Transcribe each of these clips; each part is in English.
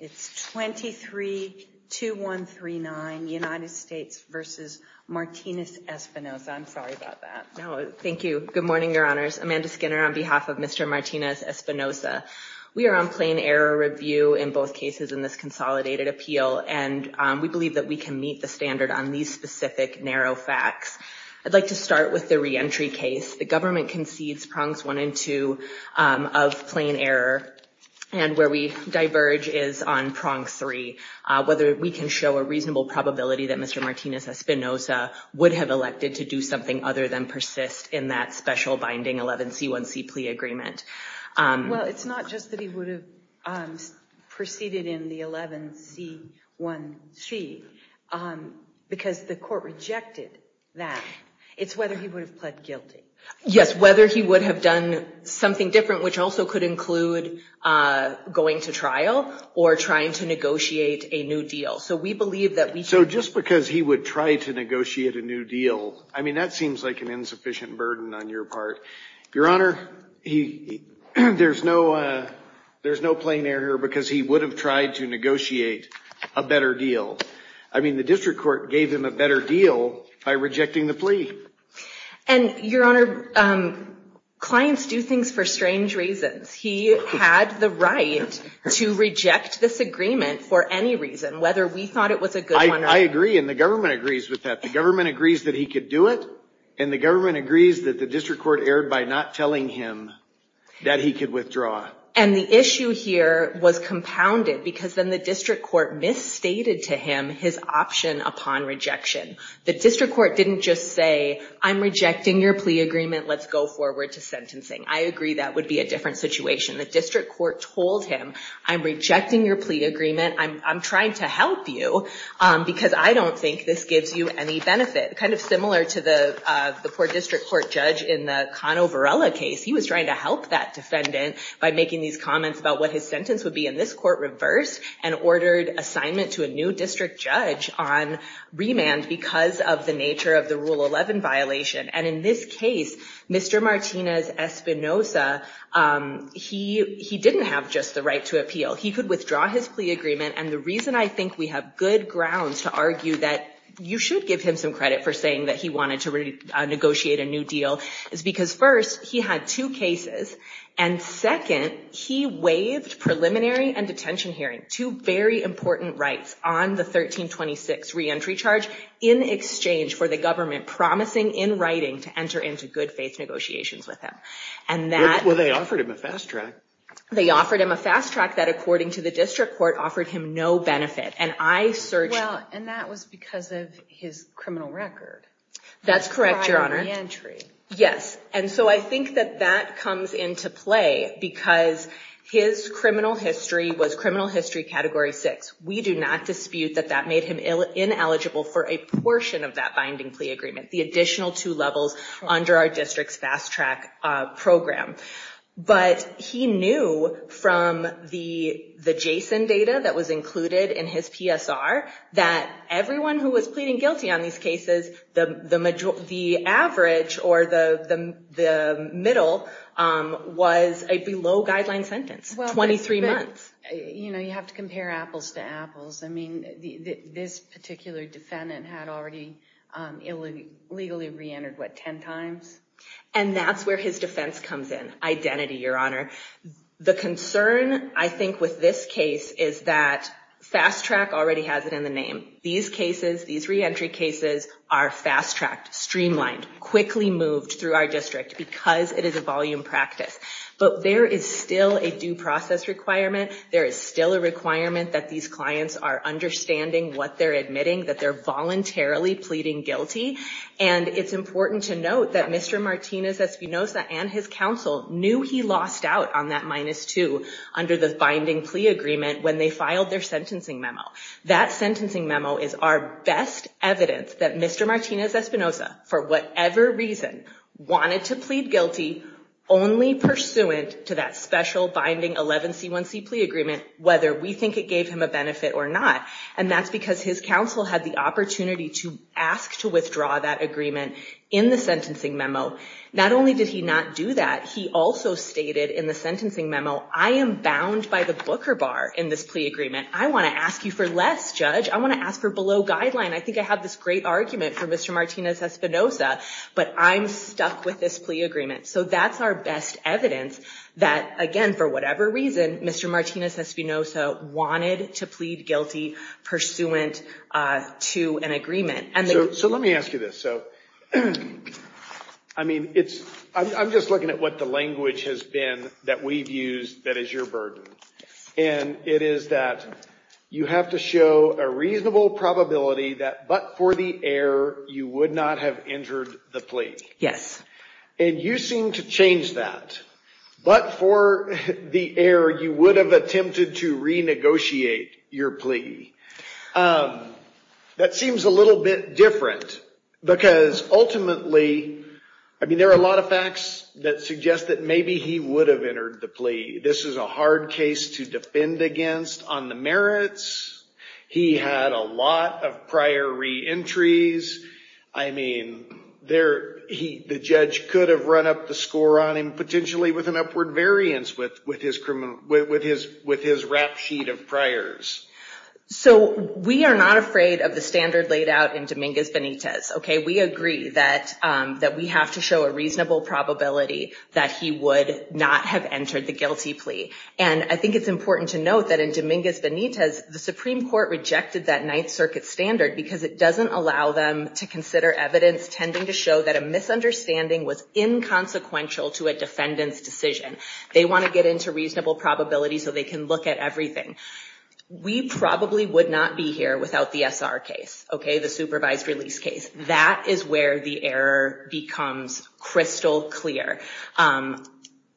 It's 23-2139, United States versus Martinez-Espinoza. I'm sorry about that. No, thank you. Good morning, Your Honors. Amanda Skinner on behalf of Mr. Martinez-Espinoza. We are on plain error review in both cases in this consolidated appeal. And we believe that we can meet the standard on these specific narrow facts. I'd like to start with the reentry case. The government concedes prongs one and two of plain error. And where we diverge is on prong three, whether we can show a reasonable probability that Mr. Martinez-Espinoza would have elected to do something other than persist in that special binding 11C1C plea agreement. Well, it's not just that he would have proceeded in the 11C1C, because the court rejected that. It's whether he would have pled guilty. Yes, whether he would have done something different, which also could include going to trial or trying to negotiate a new deal. So we believe that we can. So just because he would try to negotiate a new deal, I mean, that seems like an insufficient burden on your part. Your Honor, there's no plain error, because he would have tried to negotiate a better deal. I mean, the district court gave him a better deal by rejecting the plea. And, Your Honor, clients do things for strange reasons. He had the right to reject this agreement for any reason, whether we thought it was a good one or not. I agree, and the government agrees with that. The government agrees that he could do it, and the government agrees that the district court erred by not telling him that he could withdraw. And the issue here was compounded, because then the district court misstated to him his option upon rejection. The district court didn't just say, I'm rejecting your plea agreement. Let's go forward to sentencing. I agree that would be a different situation. The district court told him, I'm rejecting your plea agreement. I'm trying to help you, because I don't think this gives you any benefit. Kind of similar to the poor district court judge in the Cano Varela case. He was trying to help that defendant by making these comments about what his sentence would be. And this court reversed and ordered assignment to a new district judge on remand because of the nature of the Rule 11 violation. And in this case, Mr. Martinez-Espinosa, he didn't have just the right to appeal. He could withdraw his plea agreement. And the reason I think we have good ground to argue that you should give him some credit for saying that he wanted to negotiate a new deal is because first, he had two cases. And second, he waived preliminary and detention hearing, two very important rights on the 1326 reentry charge in exchange for the government promising, in writing, to enter into good faith negotiations with him. And that- Well, they offered him a fast track. They offered him a fast track that, according to the district court, offered him no benefit. And I searched- Well, and that was because of his criminal record. That's correct, Your Honor. Prior reentry. Yes. And so I think that that comes into play because his criminal history was criminal history category six. We do not dispute that that made him ineligible for a portion of that binding plea agreement, the additional two levels under our district's fast track program. But he knew from the JSON data that was included in his PSR that everyone who was pleading guilty on these cases, the average or the middle was a below guideline sentence, 23 months. You have to compare apples to apples. I mean, this particular defendant had already illegally reentered, what, 10 times? And that's where his defense comes in, identity, Your Honor. The concern, I think, with this case is that fast track already has it in the name. These cases, these reentry cases, are fast tracked, streamlined, quickly moved through our district because it is a volume practice. But there is still a due process requirement. There is still a requirement that these clients are understanding what they're admitting, that they're voluntarily pleading guilty. And it's important to note that Mr. Martinez-Espinosa and his counsel knew he lost out on that minus two under the binding plea agreement when they filed their sentencing memo. That sentencing memo is our best evidence that Mr. Martinez-Espinosa, for whatever reason, wanted to plead guilty only pursuant to that special binding 11C1C plea agreement, whether we think it gave him a benefit or not. And that's because his counsel had the opportunity to ask to withdraw that agreement in the sentencing memo. Not only did he not do that, he also stated in the sentencing memo, I am bound by the booker bar in this plea agreement. I want to ask you for less, judge. I want to ask for below guideline. I think I have this great argument for Mr. Martinez-Espinosa, but I'm stuck with this plea agreement. So that's our best evidence that, again, for whatever reason, Mr. Martinez-Espinosa wanted to plead guilty pursuant to an agreement. So let me ask you this. I mean, I'm just looking at what the language has been that we've used that is your burden. And it is that you have to show a reasonable probability that but for the error, you would not have entered the plea. Yes. And you seem to change that. But for the error, you would have attempted to renegotiate your plea. That seems a little bit different, because ultimately, I mean, there are a lot of facts that suggest that maybe he would have entered the plea. This is a hard case to defend against on the merits. He had a lot of prior re-entries. I mean, the judge could have run up the score on him, potentially with an upward variance with his rap sheet of priors. So we are not afraid of the standard laid out in Dominguez-Benitez, OK? We agree that we have to show a reasonable probability that he would not have entered the guilty plea. And I think it's important to note that in Dominguez-Benitez, the Supreme Court rejected that Ninth Circuit standard, because it doesn't allow them to consider evidence tending to show that a misunderstanding was inconsequential to a defendant's decision. They want to get into reasonable probability so they can look at everything. We probably would not be here without the SR case, OK? The supervised release case. That is where the error becomes crystal clear.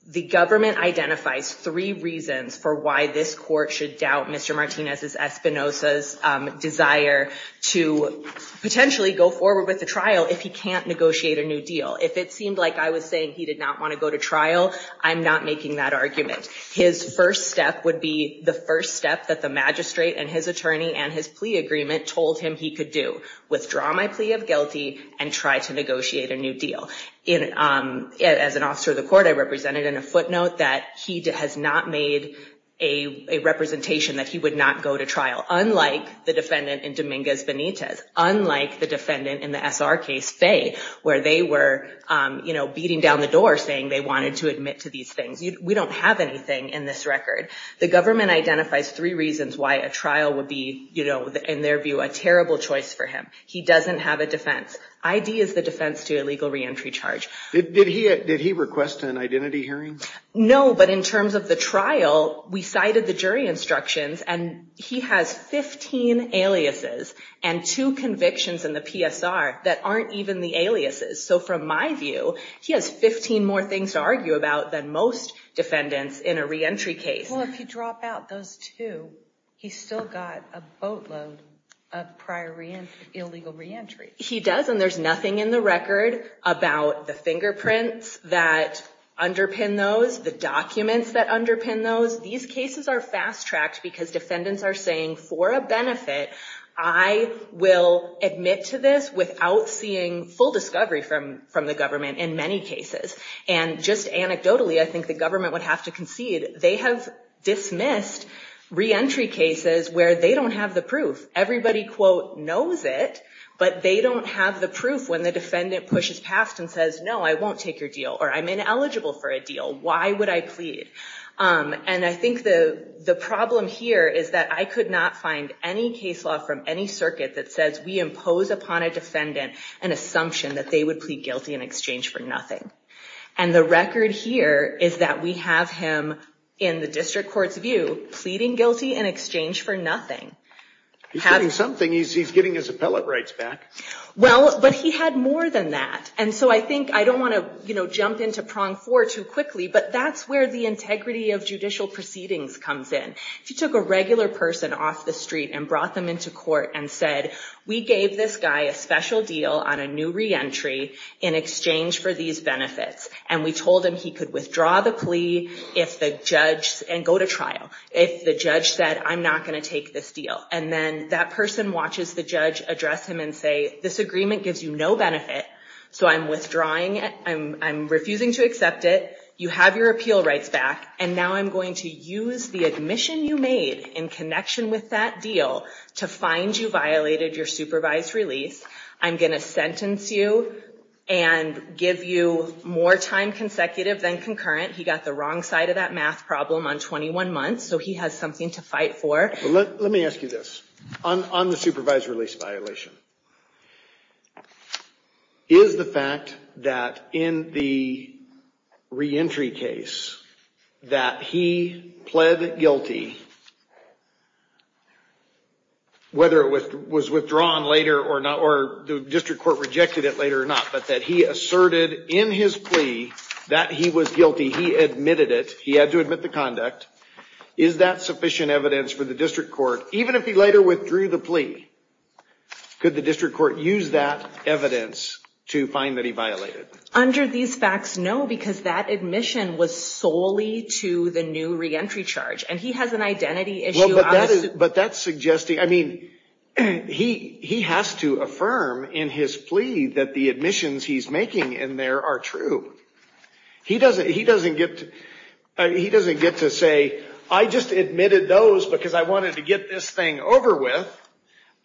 The government identifies three reasons for why this court should doubt Mr. Martinez's, Espinosa's, desire to potentially go forward with the trial if he can't negotiate a new deal. If it seemed like I was saying he did not want to go to trial, I'm not making that argument. His first step would be the first step that the magistrate and his attorney and his plea agreement told him he could do. Withdraw my plea of guilty and try to negotiate a new deal. As an officer of the court, I represented in a footnote that he has not made a representation that he would not go to trial, unlike the defendant in Dominguez-Benitez, unlike the defendant in the SR case, Fay, where they were beating down the door saying they wanted to admit to these things. We don't have anything in this record. The government identifies three reasons why a trial would be, in their view, a terrible choice for him. He doesn't have a defense. ID is the defense to illegal reentry charge. Did he request an identity hearing? No, but in terms of the trial, we cited the jury instructions. And he has 15 aliases and two convictions in the PSR that aren't even the aliases. So from my view, he has 15 more things to argue about than most defendants in a reentry case. Well, if you drop out those two, he's still got a boatload of prior illegal reentry. He does, and there's nothing in the record about the fingerprints that underpin those, the documents that underpin those. These cases are fast-tracked, because defendants are saying, for a benefit, I will admit to this without seeing full discovery from the government in many cases. And just anecdotally, I think the government would have to concede. They have dismissed reentry cases where they don't have the proof. Everybody, quote, knows it, but they don't have the proof when the defendant pushes past and says, no, I won't take your deal, or I'm ineligible for a deal. Why would I plead? And I think the problem here is that I could not find any case law from any circuit that says we impose upon a defendant an assumption that they would plead guilty in exchange for nothing. And the record here is that we have him, in the district court's view, pleading guilty in exchange for nothing. He's getting something. He's getting his appellate rights back. Well, but he had more than that. And so I think I don't want to jump into prong four too quickly, but that's where the integrity of judicial proceedings comes in. If you took a regular person off the street and brought them into court and said, we gave this guy a special deal on a new reentry in exchange for these benefits, and we told him he could withdraw the plea and go to trial if the judge said, I'm not going to take this deal. And then that person watches the judge address him and say, this agreement gives you no benefit, so I'm withdrawing it. I'm refusing to accept it. You have your appeal rights back, and now I'm going to use the admission you made in connection with that deal to find you violated your supervised release. I'm going to sentence you and give you more time consecutive than concurrent. He got the wrong side of that math problem on 21 months, so he has something to fight for. Let me ask you this. On the supervised release violation, is the fact that in the reentry case that he pled guilty, whether it was withdrawn later or the district court rejected it later or not, but that he asserted in his plea that he was guilty, he admitted it, he had to admit the conduct, is that sufficient evidence for the district court? Even if he later withdrew the plea, could the district court use that evidence to find that he violated? Under these facts, no, because that admission was solely to the new reentry charge. And he has an identity issue. But that's suggesting, I mean, he has to affirm in his plea that the admissions he's making in there are true. He doesn't get to say, I just admitted those because I wanted to get this thing over with.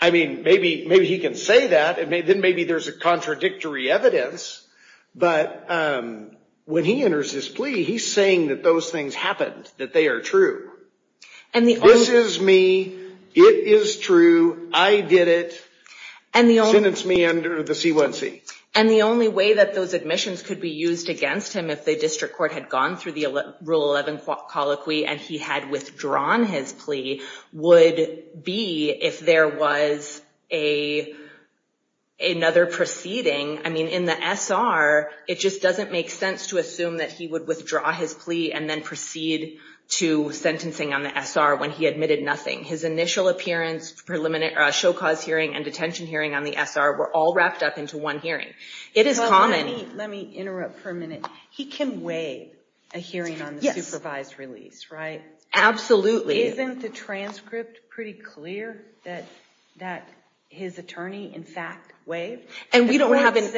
I mean, maybe he can say that. Then maybe there's a contradictory evidence. But when he enters his plea, he's that those things happened, that they are true. This is me. It is true. I did it. Sentence me under the C1C. And the only way that those admissions could be used against him if the district court had gone through the Rule 11 colloquy and he had withdrawn his plea would be if there was another proceeding. I mean, in the SR, it just doesn't make sense to assume that he would withdraw his plea and then proceed to sentencing on the SR when he admitted nothing. His initial appearance, show cause hearing, and detention hearing on the SR were all wrapped up into one hearing. It is common. Let me interrupt for a minute. He can waive a hearing on the supervised release, right? Absolutely. Isn't the transcript pretty clear that his attorney, in fact, waived? And we don't have any.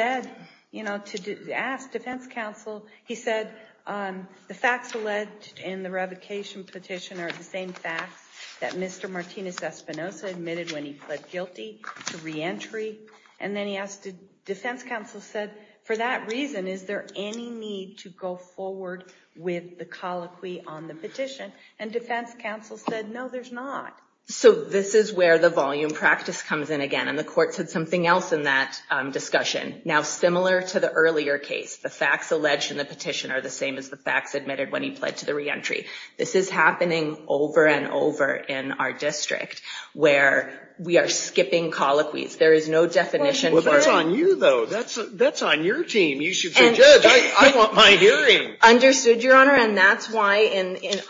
To ask defense counsel, he said, the facts alleged in the revocation petition are the same facts that Mr. Martinez-Espinosa admitted when he pled guilty to reentry. And then he asked, defense counsel said, for that reason, is there any need to go forward with the colloquy on the petition? And defense counsel said, no, there's not. So this is where the volume practice comes in again. And the court said something else in that discussion. Now, similar to the earlier case, the facts alleged in the petition are the same as the facts admitted when he pled to the reentry. This is happening over and over in our district, where we are skipping colloquies. There is no definition for it. Well, that's on you, though. That's on your team. You should say, judge, I want my hearing. Understood, Your Honor. And that's why,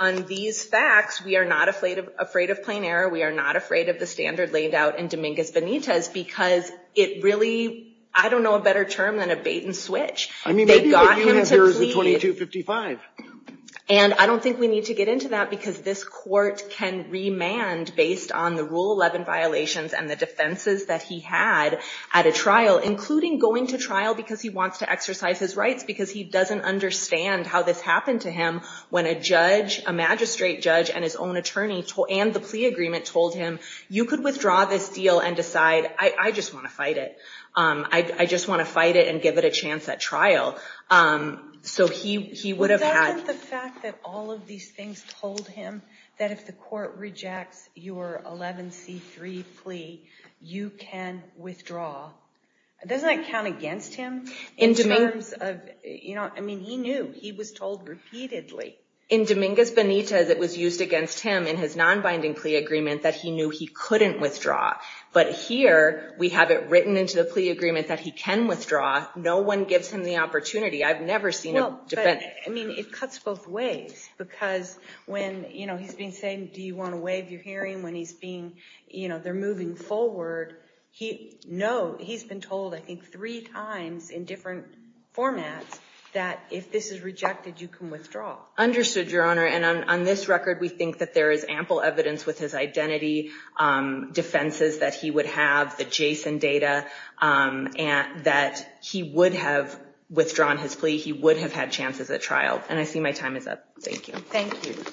on these facts, we are not afraid of plain error. We are not afraid of the standard laid out in Dominguez-Benitez, because it really, I don't know a better term than a bait and switch. I mean, maybe what you have here is a 2255. And I don't think we need to get into that, because this court can remand, based on the Rule 11 violations and the defenses that he had at a trial, including going to trial because he wants to exercise his rights, because he doesn't understand how this happened to him when a judge, a magistrate judge, and his own attorney, and the plea agreement, told him, you could withdraw this deal and decide, I just want to fight it. I just want to fight it and give it a chance at trial. So he would have had. But that and the fact that all of these things told him that if the court rejects your 11C3 plea, you can withdraw. Doesn't that count against him? In terms of, I mean, he knew. He was told repeatedly. In Dominguez-Benitez, it was used against him in his non-binding plea agreement that he knew he couldn't withdraw. But here, we have it written into the plea agreement that he can withdraw. No one gives him the opportunity. I've never seen a defendant. I mean, it cuts both ways. Because when he's being saying, do you want to waive your hearing, when they're moving forward, he's been told, I think, three times in different formats that if this is rejected, you can withdraw. Understood, Your Honor. And on this record, we think that there is ample evidence with his identity, defenses that he would have, the Jason data, that he would have withdrawn his plea. He would have had chances at trial. And I see my time is up. Thank you. Thank you.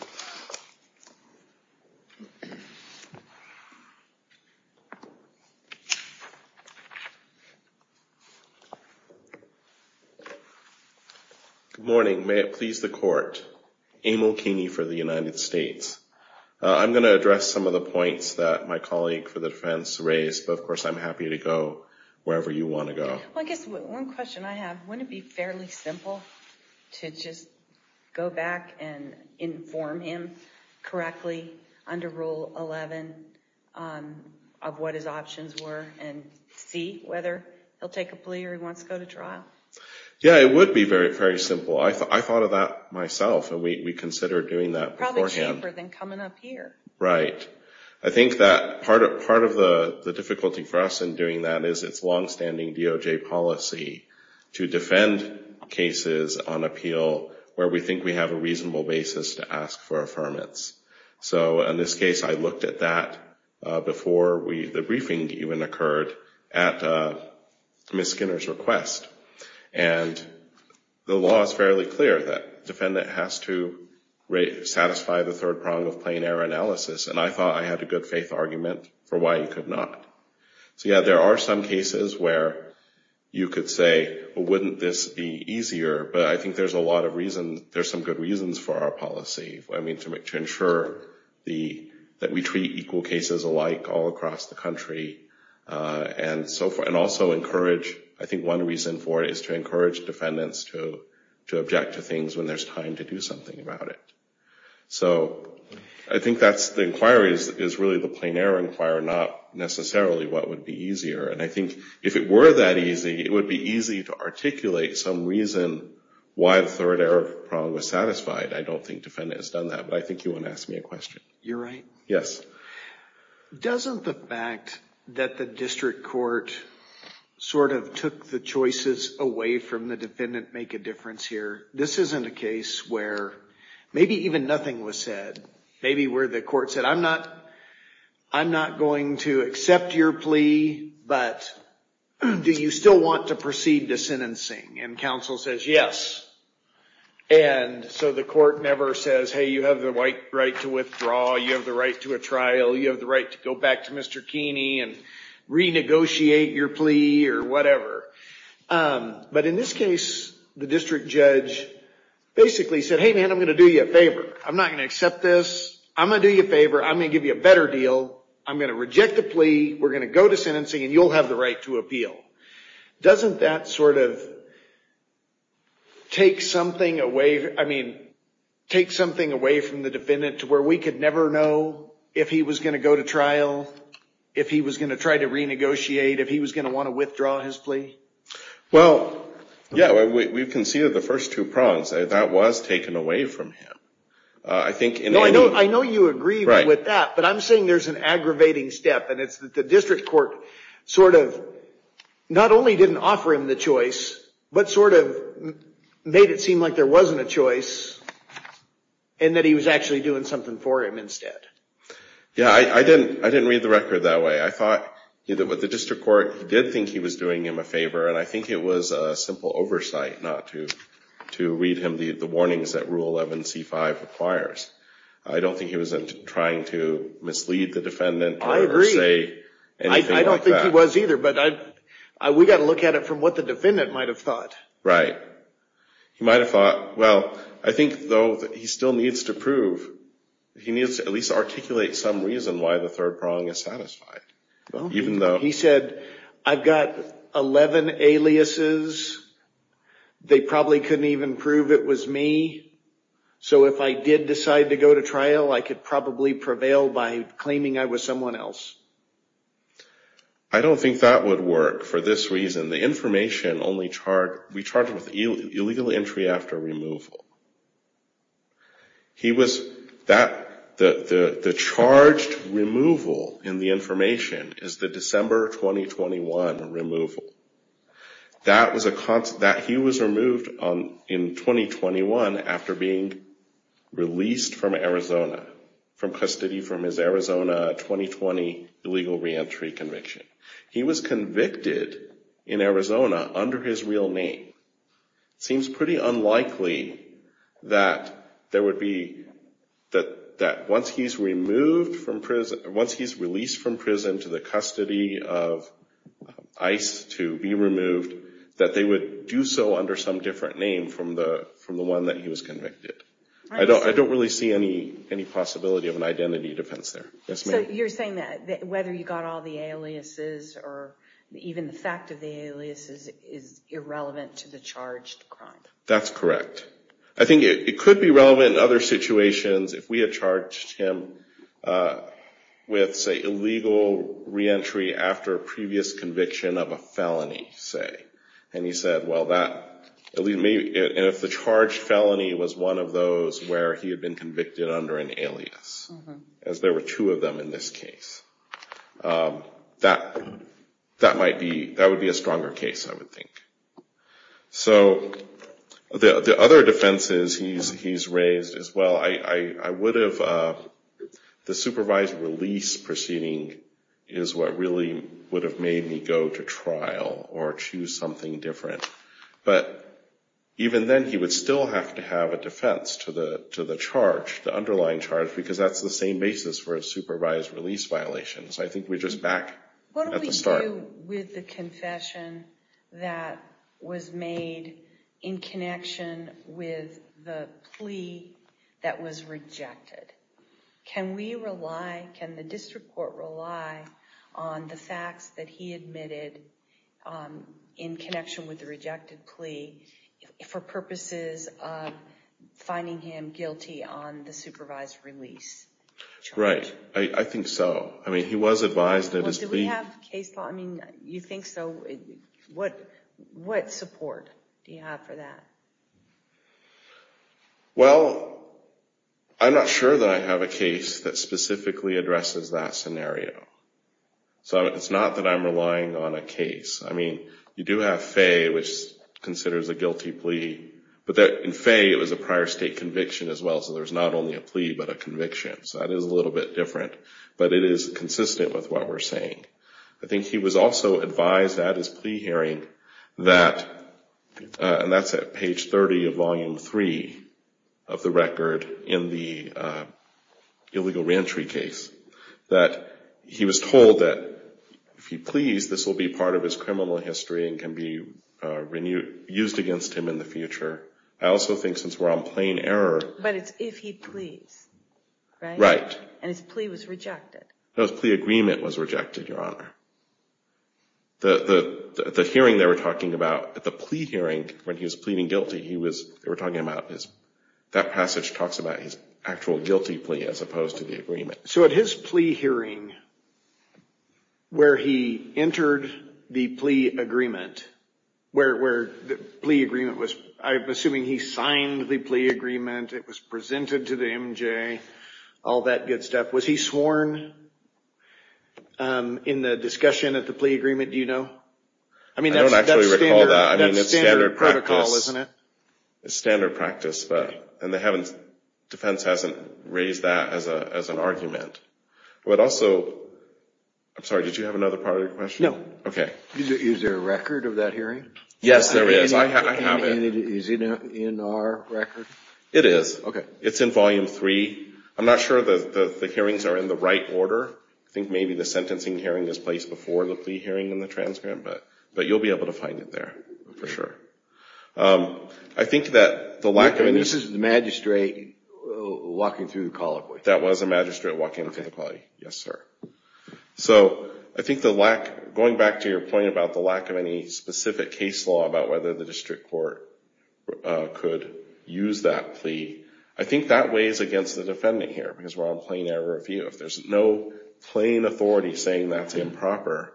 Good morning. May it please the court. Emil Keeney for the United States. I'm going to address some of the points that my colleague for the defense raised. But of course, I'm happy to go wherever you want to go. Well, I guess one question I have, wouldn't it be fairly simple to just go back and inform him correctly under Rule 11 of what his options were and see whether he'll take a plea or he wants to go to trial? Yeah, it would be very, very simple. I thought of that myself. And we considered doing that beforehand. Probably cheaper than coming up here. Right. I think that part of the difficulty for us in doing that is it's longstanding DOJ policy to defend cases on appeal where we think we have a reasonable basis to ask for affirmance. So in this case, I looked at that before the briefing even occurred at Ms. Skinner's request. And the law is fairly clear that a defendant has to satisfy the third prong of plain error analysis. And I thought I had a good faith argument for why you could not. So yeah, there are some cases where you could say, well, wouldn't this be easier? But I think there's a lot of reasons. There's some good reasons for our policy. I mean, to ensure that we treat equal cases alike all across the country and so forth. And also encourage, I think one reason for it is to encourage defendants to object to things when there's time to do something about it. So I think the inquiry is really the plain error inquiry, not necessarily what would be easier. And I think if it were that easy, it would be easy to articulate some reason why the third error prong was satisfied. I don't think defendant has done that. But I think you want to ask me a question. You're right. Yes. So doesn't the fact that the district court sort of took the choices away from the defendant make a difference here? This isn't a case where maybe even nothing was said. Maybe where the court said, I'm not going to accept your plea, but do you still want to proceed to sentencing? And counsel says, yes. And so the court never says, hey, you have the right to withdraw. You have the right to a trial. You have the right to go back to Mr. Keeney and renegotiate your plea or whatever. But in this case, the district judge basically said, hey, man, I'm going to do you a favor. I'm not going to accept this. I'm going to do you a favor. I'm going to give you a better deal. I'm going to reject the plea. We're going to go to sentencing, and you'll have the right to appeal. Doesn't that sort of take something away from the judge to never know if he was going to go to trial, if he was going to try to renegotiate, if he was going to want to withdraw his plea? Well, yeah, we've conceded the first two prongs. That was taken away from him. I think in any way. I know you agree with that, but I'm saying there's an aggravating step. And it's that the district court sort of not only didn't offer him the choice, but sort of made it seem like there wasn't a choice, and that he was actually doing something for him. Yeah. I didn't read the record that way. I thought with the district court, he did think he was doing him a favor. And I think it was a simple oversight not to read him the warnings that Rule 11c5 requires. I don't think he was trying to mislead the defendant or say anything like that. I agree. I don't think he was either. But we've got to look at it from what the defendant might have thought. Right. He might have thought, well, I think, though, he still needs to prove. He needs to at least articulate some reason why the third prong is satisfied, even though he said, I've got 11 aliases. They probably couldn't even prove it was me. So if I did decide to go to trial, I could probably prevail by claiming I was someone else. I don't think that would work for this reason. The information only charged with illegal entry after removal. He was that the charged removal in the information is the December 2021 removal. That was a constant. That he was removed in 2021 after being released from Arizona, from custody from his Arizona 2020 illegal reentry conviction. He was convicted in Arizona under his real name. Seems pretty unlikely that once he's released from prison to the custody of ICE to be removed, that they would do so under some different name from the one that he was convicted. I don't really see any possibility of an identity defense there. You're saying that whether you got all the aliases, or even the fact of the aliases, is irrelevant to the charged crime. That's correct. I think it could be relevant in other situations if we had charged him with, say, illegal reentry after a previous conviction of a felony, say. And he said, well, that, at least maybe, and if the charged felony was one of those where he had been convicted under an alias, as there were two of them in this case, that might be, that would be a stronger case, I would think. So the other defenses he's raised is, well, I would have, the supervised release proceeding is what really would have made me go to trial or choose something different. But even then, he would still have to have a defense to the charge, the underlying charge, because that's the same basis for a supervised release violation. So I think we're just back at the start. What do we do with the confession that was made in connection with the plea that was rejected? Can we rely, can the district court rely on the facts that he admitted in connection with the rejected plea for purposes of finding him guilty on the supervised release charge? Right. I think so. I mean, he was advised that his plea. Well, did we have case law? I mean, you think so. What support do you have for that? Well, I'm not sure that I have a case that specifically addresses that scenario. So it's not that I'm relying on a case. I mean, you do have Faye, which considers a guilty plea. But in Faye, it was a prior state conviction as well. So there's not only a plea, but a conviction. So that is a little bit different. But it is consistent with what we're saying. I think he was also advised at his plea hearing that, and that's at page 30 of volume 3 of the record in the illegal reentry case, that he was told that if he pleas, this will be part of his criminal history and can be used against him in the future. I also think since we're on plain error. But it's if he pleas, right? Right. And his plea was rejected. No, his plea agreement was rejected, Your Honor. The hearing they were talking about at the plea hearing, when he was pleading guilty, they were talking about that passage talks about his actual guilty plea as opposed to the agreement. So at his plea hearing, where he entered the plea agreement, where the plea agreement was, I'm it was presented to the MJ, all that good stuff. Was he sworn in the discussion at the plea agreement? Do you know? I mean, that's standard protocol, isn't it? It's standard practice. And the defense hasn't raised that as an argument. But also, I'm sorry, did you have another part of your question? No. OK. Is there a record of that hearing? Yes, there is. I have it. Is it in our record? It is. It's in volume three. I'm not sure that the hearings are in the right order. I think maybe the sentencing hearing is placed before the plea hearing and the transcript. But you'll be able to find it there, for sure. I think that the lack of any This is the magistrate walking through the colloquy. That was a magistrate walking through the colloquy, yes, sir. So I think the lack, going back to your point about the lack of any specific case law about whether the district court could use that plea, I think that weighs against the defendant here. Because we're on plain error of view. If there's no plain authority saying that's improper,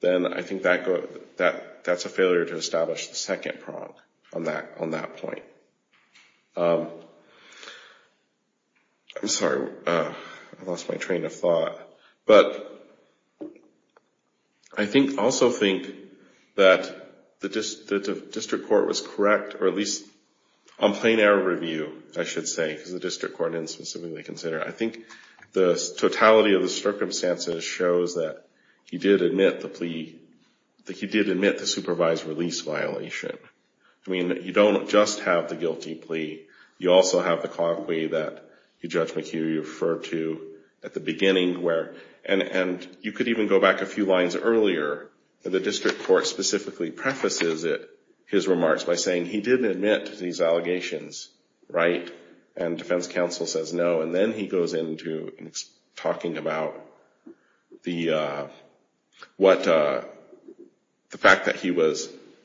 then I think that's a failure to establish the second prong on that point. Sorry, I lost my train of thought. But I also think that the district court was correct, or at least on plain error of review, I should say, because the district court didn't specifically consider it. I think the totality of the circumstances shows that he did admit the supervised release violation. I mean, you don't just have the guilty plea. You also have the colloquy that Judge McHugh referred to at the beginning where, and you could even go back a few lines earlier, the district court specifically prefaces his remarks by saying he didn't admit to these allegations, right? And defense counsel says no. And then he goes into talking about the fact that he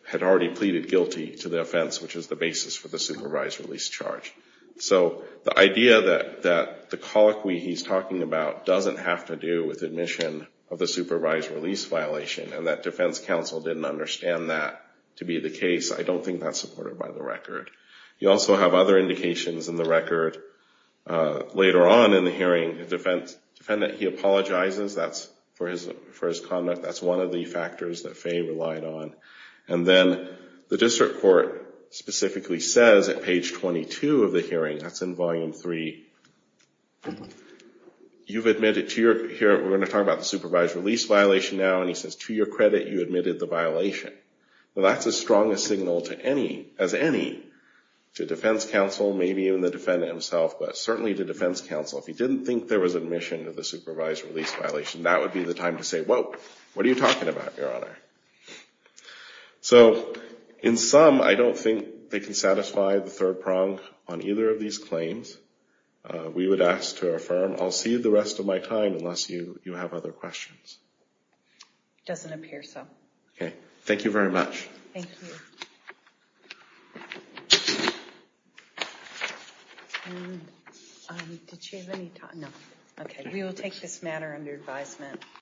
had already pleaded guilty to the offense, which was the basis for the supervised release charge. So the idea that the colloquy he's talking about doesn't have to do with admission of the supervised release violation, and that defense counsel didn't understand that to be the case, I don't think that's supported by the record. You also have other indications in the record. Later on in the hearing, the defendant, he apologizes. That's for his conduct. That's one of the factors that Faye relied on. And then the district court specifically says at page 22 of the hearing, that's in volume three, you've admitted to your, here, we're going to talk about the supervised release violation now. And he says, to your credit, you admitted the violation. Well, that's as strong a signal as any to defense counsel, maybe even the defendant himself, but certainly to defense counsel. If he didn't think there was admission to the supervised release violation, that would be the time to say, whoa, what are you talking about, Your Honor? So in sum, I don't think they can satisfy the third prong on either of these claims. We would ask to affirm. I'll see the rest of my time unless you have other questions. Doesn't appear so. OK. Thank you very much. Thank you. Did you have any time? No. OK. We will take this matter under advisement.